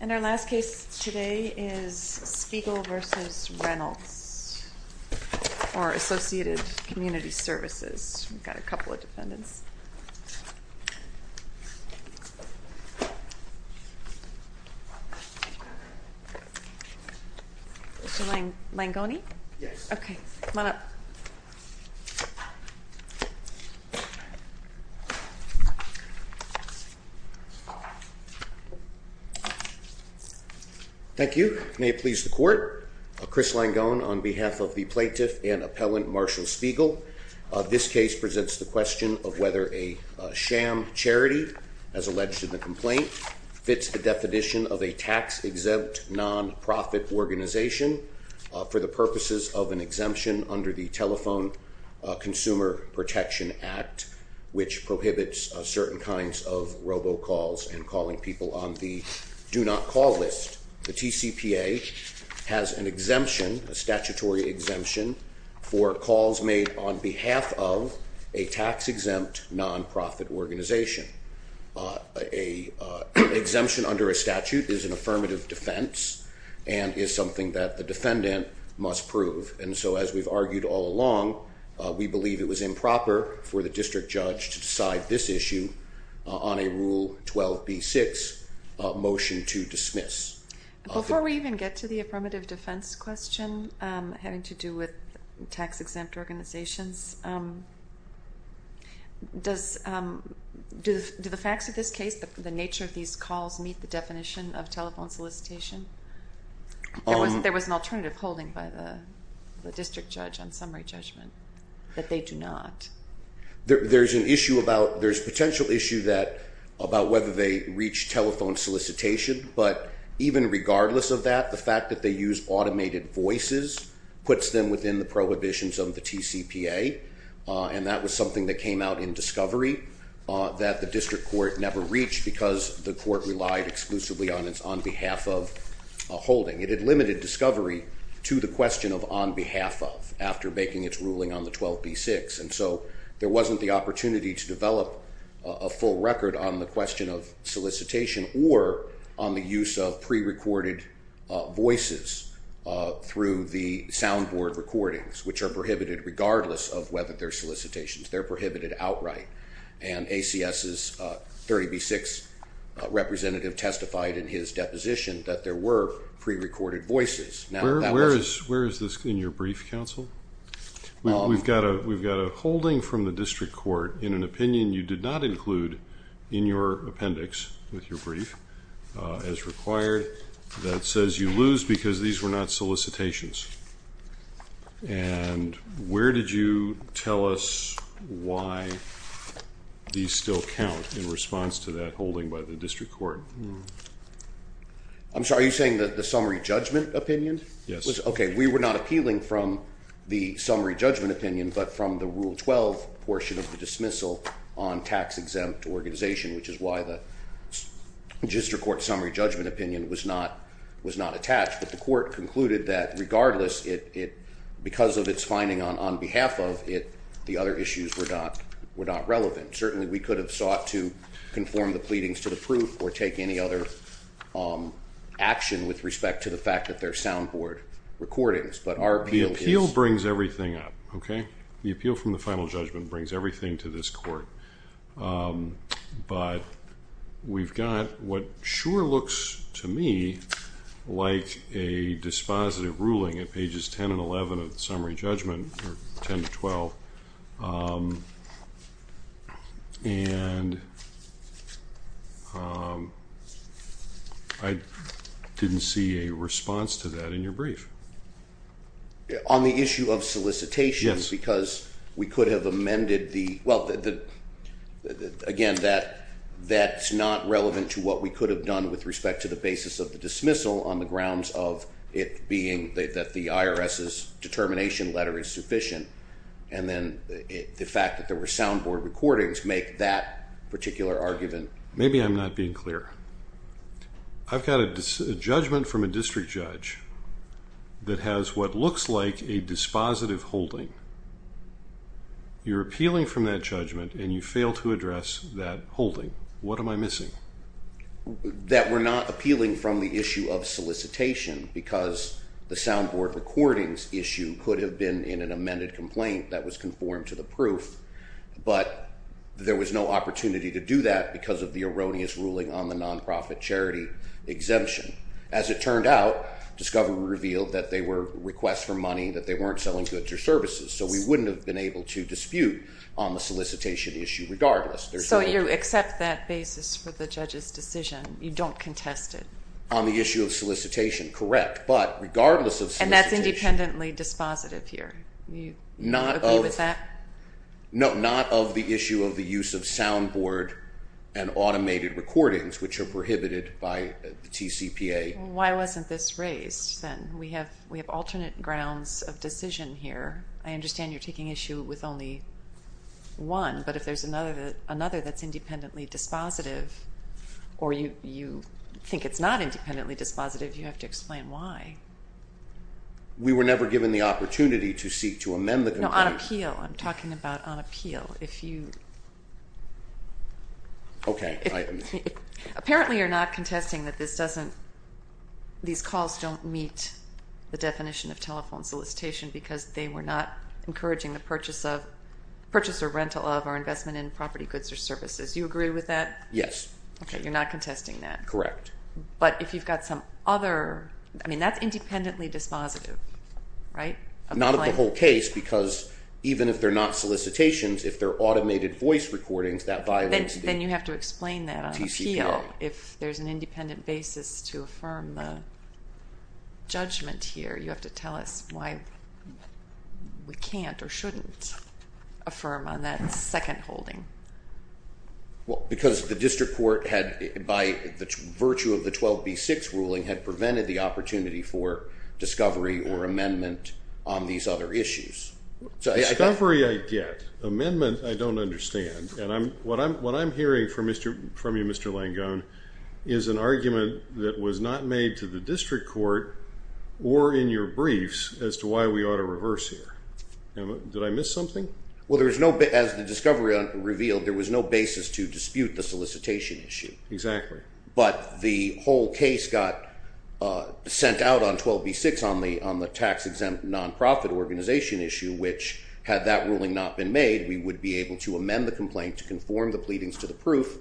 And our last case today is Spiegel v. Reynolds, or Associated Community Services. We've got a couple of defendants. Mr. Langone? Yes. Okay, come on up. Thank you. May it please the court. Chris Langone on behalf of the plaintiff and appellant Marshall Spiegel. This case presents the question of whether a sham charity, as alleged in the complaint, fits the definition of a tax-exempt nonprofit organization for the purposes of an exemption under the Telephone Consumer Protection Act, which prohibits certain kinds of robocalls and calling people on the do-not-call list. The TCPA has an exemption, a statutory exemption, for calls made on behalf of a tax-exempt nonprofit organization. An exemption under a statute is an affirmative defense and is something that the defendant must prove. And so, as we've argued all along, we believe it was improper for the district judge to decide this issue on a Rule 12b-6 motion to dismiss. Before we even get to the affirmative defense question having to do with tax-exempt organizations, do the facts of this case, the nature of these calls, meet the definition of telephone solicitation? There was an alternative holding by the district judge on summary judgment that they do not. There's a potential issue about whether they reach telephone solicitation. But even regardless of that, the fact that they use automated voices puts them within the prohibitions of the TCPA. And that was something that came out in discovery that the district court never reached because the court relied exclusively on its on-behalf-of holding. It had limited discovery to the question of on-behalf-of after making its ruling on the 12b-6. And so, there wasn't the opportunity to develop a full record on the question of solicitation or on the use of prerecorded voices through the soundboard recordings, which are prohibited regardless of whether they're solicitations. They're prohibited outright. And ACS's 30b-6 representative testified in his deposition that there were prerecorded voices. Where is this in your brief, counsel? We've got a holding from the district court in an opinion you did not include in your appendix with your brief as required that says you lose because these were not solicitations. And where did you tell us why these still count in response to that holding by the district court? I'm sorry. Are you saying that the summary judgment opinion? Yes. Okay. We were not appealing from the summary judgment opinion but from the Rule 12 portion of the dismissal on tax-exempt organization, which is why the district court summary judgment opinion was not attached. But the court concluded that regardless, because of its finding on on-behalf-of, the other issues were not relevant. Certainly, we could have sought to conform the pleadings to the proof or take any other action with respect to the fact that they're soundboard recordings. But our appeal is. The appeal brings everything up, okay? The appeal from the final judgment brings everything to this court. But we've got what sure looks to me like a dispositive ruling at pages 10 and 11 of the summary judgment or 10 to 12. And I didn't see a response to that in your brief. On the issue of solicitation? Yes. Because we could have amended the, well, again, that's not relevant to what we could have done with respect to the basis of the dismissal on the grounds of it being that the IRS's determination letter is sufficient. And then the fact that there were soundboard recordings make that particular argument. Maybe I'm not being clear. I've got a judgment from a district judge that has what looks like a dispositive holding. You're appealing from that judgment, and you fail to address that holding. What am I missing? That we're not appealing from the issue of solicitation because the soundboard recordings issue could have been in an amended complaint that was conformed to the proof. But there was no opportunity to do that because of the erroneous ruling on the nonprofit charity exemption. As it turned out, discovery revealed that they were requests for money, that they weren't selling goods or services. So we wouldn't have been able to dispute on the solicitation issue regardless. So you accept that basis for the judge's decision. You don't contest it. On the issue of solicitation, correct. But regardless of solicitation. And that's independently dispositive here. Do you agree with that? No, not of the issue of the use of soundboard and automated recordings, which are prohibited by the TCPA. Why wasn't this raised then? We have alternate grounds of decision here. I understand you're taking issue with only one. But if there's another that's independently dispositive, or you think it's not independently dispositive, you have to explain why. We were never given the opportunity to seek to amend the complaint. No, on appeal. I'm talking about on appeal. Okay. Apparently you're not contesting that these calls don't meet the definition of telephone solicitation because they were not encouraging the purchase of, purchase or rental of, or investment in property goods or services. Do you agree with that? Yes. Okay, you're not contesting that. Correct. But if you've got some other, I mean, that's independently dispositive, right? Not of the whole case, because even if they're not solicitations, if they're automated voice recordings, that violates the TCPA. Then you have to explain that on appeal. If there's an independent basis to affirm the judgment here, you have to tell us why we can't or shouldn't affirm on that second holding. Well, because the district court had, by virtue of the 12B6 ruling, had prevented the opportunity for discovery or amendment on these other issues. Discovery I get. Amendment I don't understand. And what I'm hearing from you, Mr. Langone, is an argument that was not made to the district court or in your briefs as to why we ought to reverse here. Did I miss something? Well, as the discovery revealed, there was no basis to dispute the solicitation issue. Exactly. But the whole case got sent out on 12B6 on the tax-exempt non-profit organization issue, which, had that ruling not been made, we would be able to amend the complaint to conform the pleadings to the proof.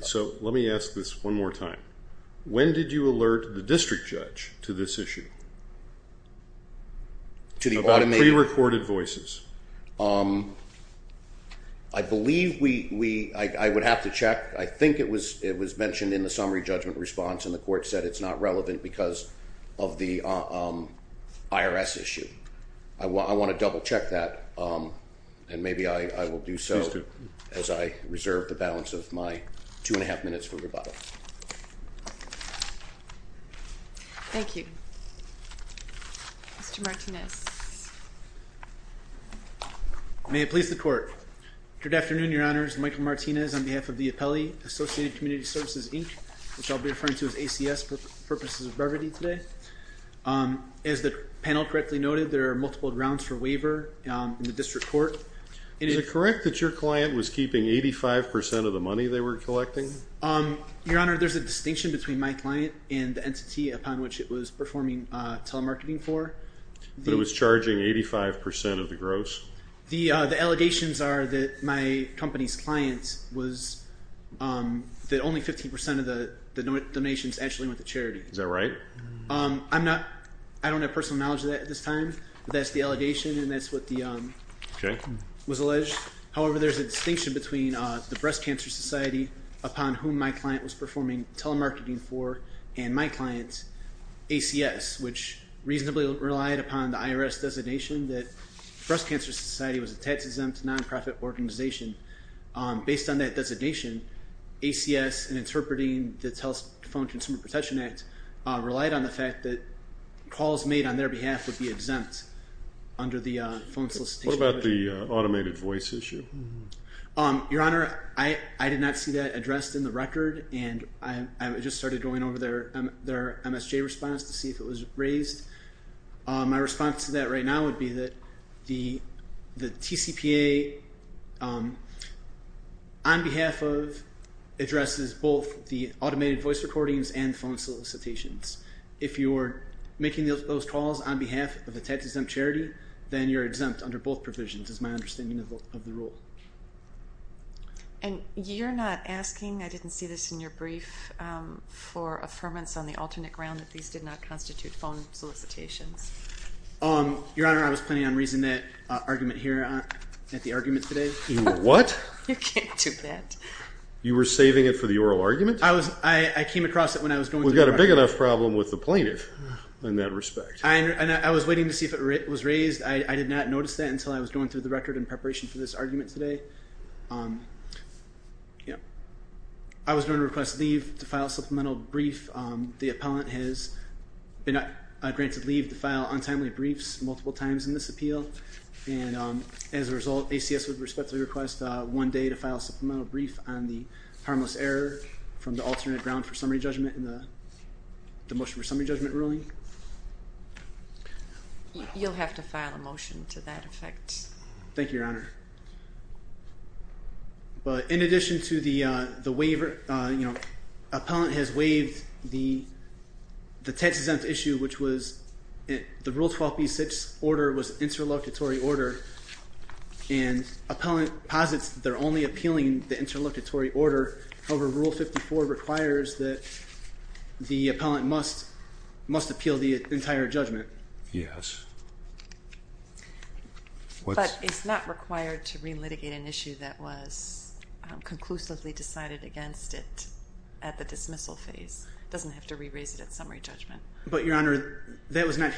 So let me ask this one more time. When did you alert the district judge to this issue? About pre-recorded voices. I believe we – I would have to check. I think it was mentioned in the summary judgment response, and the court said it's not relevant because of the IRS issue. I want to double-check that, and maybe I will do so as I reserve the balance of my two and a half minutes for rebuttal. Thank you. Mr. Martinez. May it please the court. Good afternoon, Your Honors. Michael Martinez on behalf of the appellee, Associated Community Services, Inc., which I'll be referring to as ACS for purposes of brevity today. As the panel correctly noted, there are multiple grounds for waiver in the district court. Is it correct that your client was keeping 85 percent of the money they were collecting? Your Honor, there's a distinction between my client and the entity upon which it was performing telemarketing for. But it was charging 85 percent of the gross? The allegations are that my company's client was – that only 15 percent of the donations actually went to charity. Is that right? I'm not – I don't have personal knowledge of that at this time, but that's the allegation, and that's what the – was alleged. However, there's a distinction between the Breast Cancer Society upon whom my client was performing telemarketing for and my client's ACS, which reasonably relied upon the IRS designation that the Breast Cancer Society was a tax-exempt nonprofit organization. Based on that designation, ACS, in interpreting the Telephone Consumer Protection Act, relied on the fact that calls made on their behalf would be exempt under the phone solicitation. What about the automated voice issue? Your Honor, I did not see that addressed in the record, and I just started going over their MSJ response to see if it was raised. My response to that right now would be that the TCPA, on behalf of, addresses both the automated voice recordings and phone solicitations. If you're making those calls on behalf of a tax-exempt charity, then you're exempt under both provisions, is my understanding of the rule. And you're not asking – I didn't see this in your brief – for affirmance on the alternate ground that these did not constitute phone solicitations? Your Honor, I was planning on raising that argument here at the argument today. What? You can't do that. You were saving it for the oral argument? We've got a big enough problem with the plaintiff in that respect. I was waiting to see if it was raised. I did not notice that until I was going through the record in preparation for this argument today. I was going to request leave to file a supplemental brief. The appellant has been granted leave to file untimely briefs multiple times in this appeal. And as a result, ACS would respectfully request one day to file a supplemental brief on the harmless error from the alternate ground for summary judgment in the motion for summary judgment ruling. You'll have to file a motion to that effect. But in addition to the waiver – you know, appellant has waived the text exempt issue, which was – the Rule 12b-6 order was an interlocutory order. And appellant posits they're only appealing the interlocutory order. However, Rule 54 requires that the appellant must appeal the entire judgment. Yes. But it's not required to re-litigate an issue that was conclusively decided against it at the dismissal phase. It doesn't have to re-raise it at summary judgment. But, Your Honor, that was not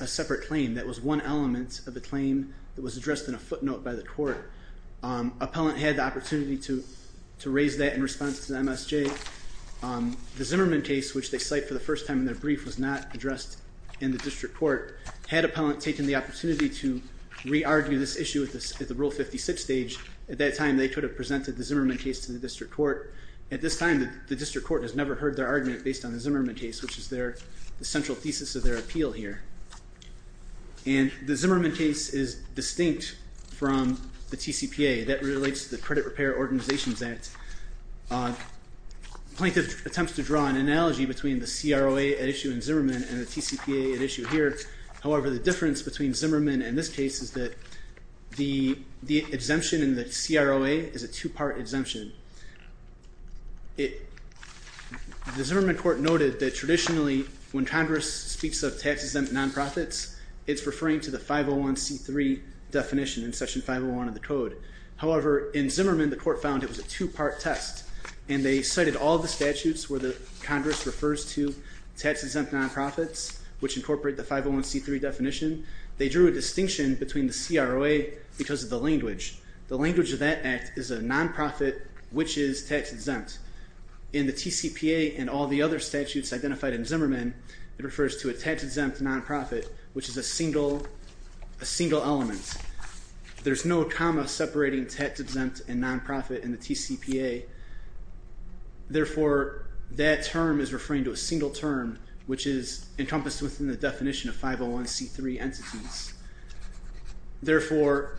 a separate claim. That was one element of the claim that was addressed in a footnote by the court. Appellant had the opportunity to raise that in response to the MSJ. The Zimmerman case, which they cite for the first time in their brief, was not addressed in the district court. Had appellant taken the opportunity to re-argue this issue at the Rule 56 stage, at that time they could have presented the Zimmerman case to the district court. At this time, the district court has never heard their argument based on the Zimmerman case, which is the central thesis of their appeal here. And the Zimmerman case is distinct from the TCPA. That relates to the Credit Repair Organizations Act. Plaintiff attempts to draw an analogy between the CROA at issue in Zimmerman and the TCPA at issue here. However, the difference between Zimmerman and this case is that the exemption in the CROA is a two-part exemption. The Zimmerman court noted that traditionally, when Congress speaks of tax-exempt non-profits, it's referring to the 501c3 definition in Section 501 of the Code. However, in Zimmerman, the court found it was a two-part test. And they cited all the statutes where Congress refers to tax-exempt non-profits, which incorporate the 501c3 definition. They drew a distinction between the CROA because of the language. The language of that act is a non-profit which is tax-exempt. In the TCPA and all the other statutes identified in Zimmerman, it refers to a tax-exempt non-profit, which is a single element. There's no comma separating tax-exempt and non-profit in the TCPA. Therefore, that term is referring to a single term, which is encompassed within the definition of 501c3 entities. Therefore,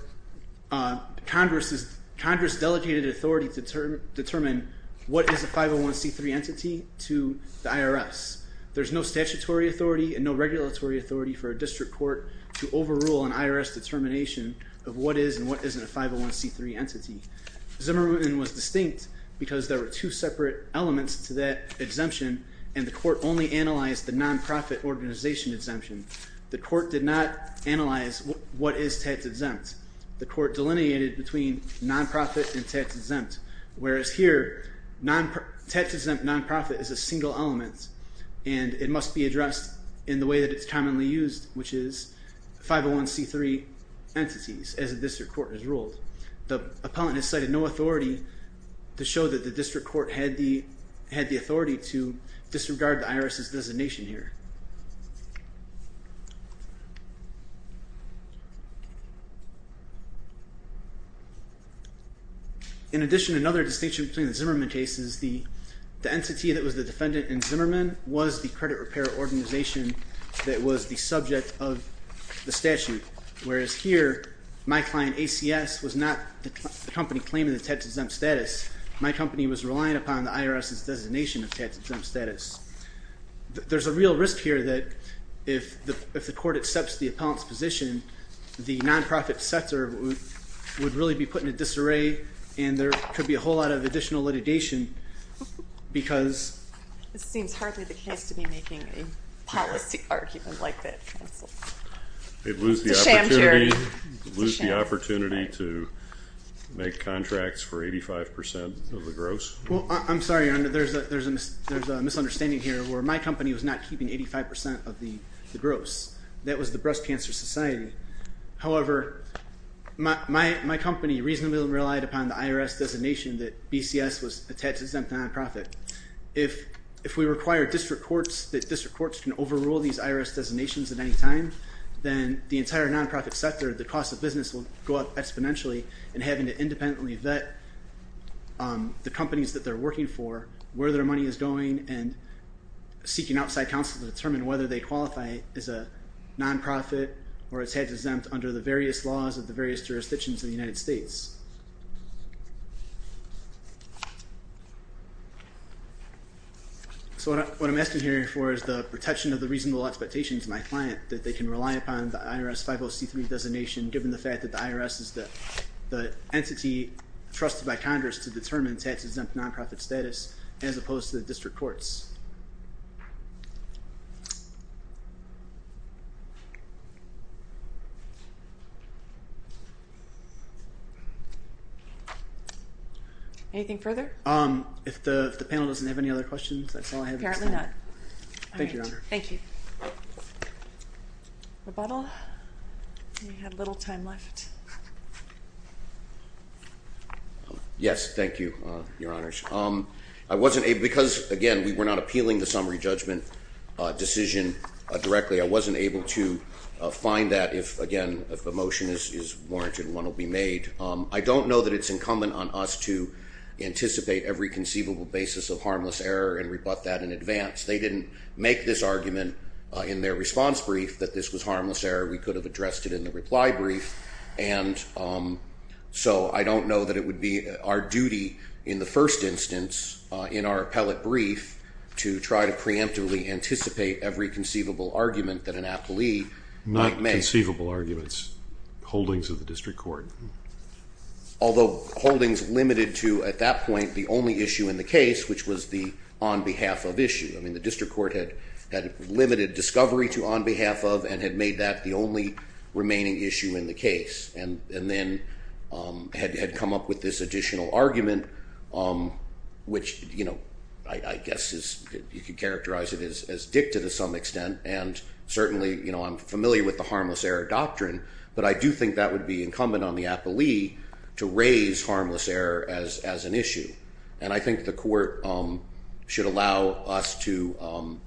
Congress delegated authority to determine what is a 501c3 entity to the IRS. There's no statutory authority and no regulatory authority for a district court to overrule an IRS determination of what is and what isn't a 501c3 entity. Zimmerman was distinct because there were two separate elements to that exemption, and the court only analyzed the non-profit organization exemption. The court did not analyze what is tax-exempt. The court delineated between non-profit and tax-exempt, whereas here, tax-exempt non-profit is a single element, and it must be addressed in the way that it's commonly used, which is 501c3 entities, as a district court has ruled. The appellant has cited no authority to show that the district court had the authority to disregard the IRS's designation here. In addition, another distinction between the Zimmerman case is the entity that was the defendant in Zimmerman was the credit repair organization that was the subject of the statute, whereas here, my client ACS was not the company claiming the tax-exempt status. My company was relying upon the IRS's designation of tax-exempt status. There's a real risk here that if the court accepts the appellant's position, the non-profit sector would really be put in a disarray, and there could be a whole lot of additional litigation because It seems hardly the case to be making a policy argument like that, counsel. It would lose the opportunity to make contracts for 85% of the gross. Well, I'm sorry, there's a misunderstanding here where my company was not keeping 85% of the gross. That was the Breast Cancer Society. However, my company reasonably relied upon the IRS designation that BCS was a tax-exempt non-profit. If we require that district courts can overrule these IRS designations at any time, then the entire non-profit sector, the cost of business will go up exponentially, and having to independently vet the companies that they're working for, where their money is going, and seeking outside counsel to determine whether they qualify as a non-profit or as tax-exempt under the various laws of the various jurisdictions of the United States. So what I'm asking here for is the protection of the reasonable expectations of my client, that they can rely upon the IRS 50C3 designation, given the fact that the IRS is the entity trusted by Congress to determine tax-exempt non-profit status, as opposed to the district courts. Anything further? If the panel doesn't have any other questions, that's all I have at this time. Apparently not. Thank you, Your Honor. Thank you. Rebuttal? We have little time left. Yes, thank you, Your Honors. I wasn't able, because, again, we were not appealing the summary judgment decision directly, I wasn't able to find that if, again, if a motion is warranted and one will be made. I don't know that it's incumbent on us to anticipate every conceivable basis of harmless error and rebut that in advance. They didn't make this argument in their response brief that this was harmless error. We could have addressed it in the reply brief, and so I don't know that it would be our duty in the first instance, in our appellate brief, to try to preemptively anticipate every conceivable argument that an appellee might make. Conceivable arguments, holdings of the district court. Although holdings limited to, at that point, the only issue in the case, which was the on behalf of issue. I mean, the district court had limited discovery to on behalf of and had made that the only remaining issue in the case and then had come up with this additional argument, which, you know, I guess you could characterize it as dicted to some extent, and certainly, you know, I'm familiar with the harmless error doctrine, but I do think that would be incumbent on the appellee to raise harmless error as an issue. And I think the court should allow us to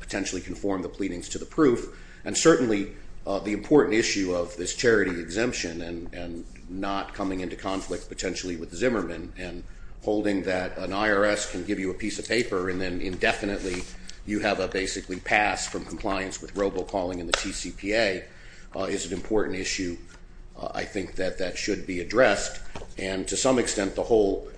potentially conform the pleadings to the proof, and certainly the important issue of this charity exemption and not coming into conflict potentially with Zimmerman and holding that an IRS can give you a piece of paper and then indefinitely you have a basically pass from compliance with robocalling in the TCPA is an important issue. I think that that should be addressed. And to some extent, the whole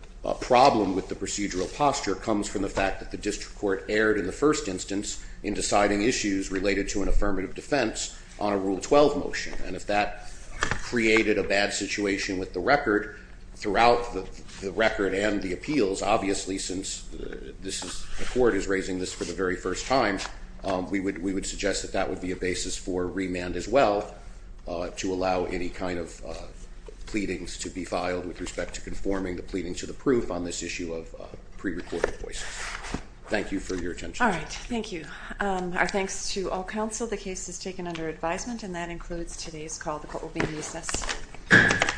problem with the procedural posture comes from the fact that the district court erred in the first instance in deciding issues related to an affirmative defense on a Rule 12 motion. And if that created a bad situation with the record, throughout the record and the appeals, obviously since the court is raising this for the very first time, we would suggest that that would be a basis for remand as well to allow any kind of pleadings to be filed with respect to conforming the pleading to the proof on this issue of prerecorded voices. Thank you for your attention. All right. Thank you. Our thanks to all counsel. The case is taken under advisement, and that includes today's call. The court will be in recess. Thank you.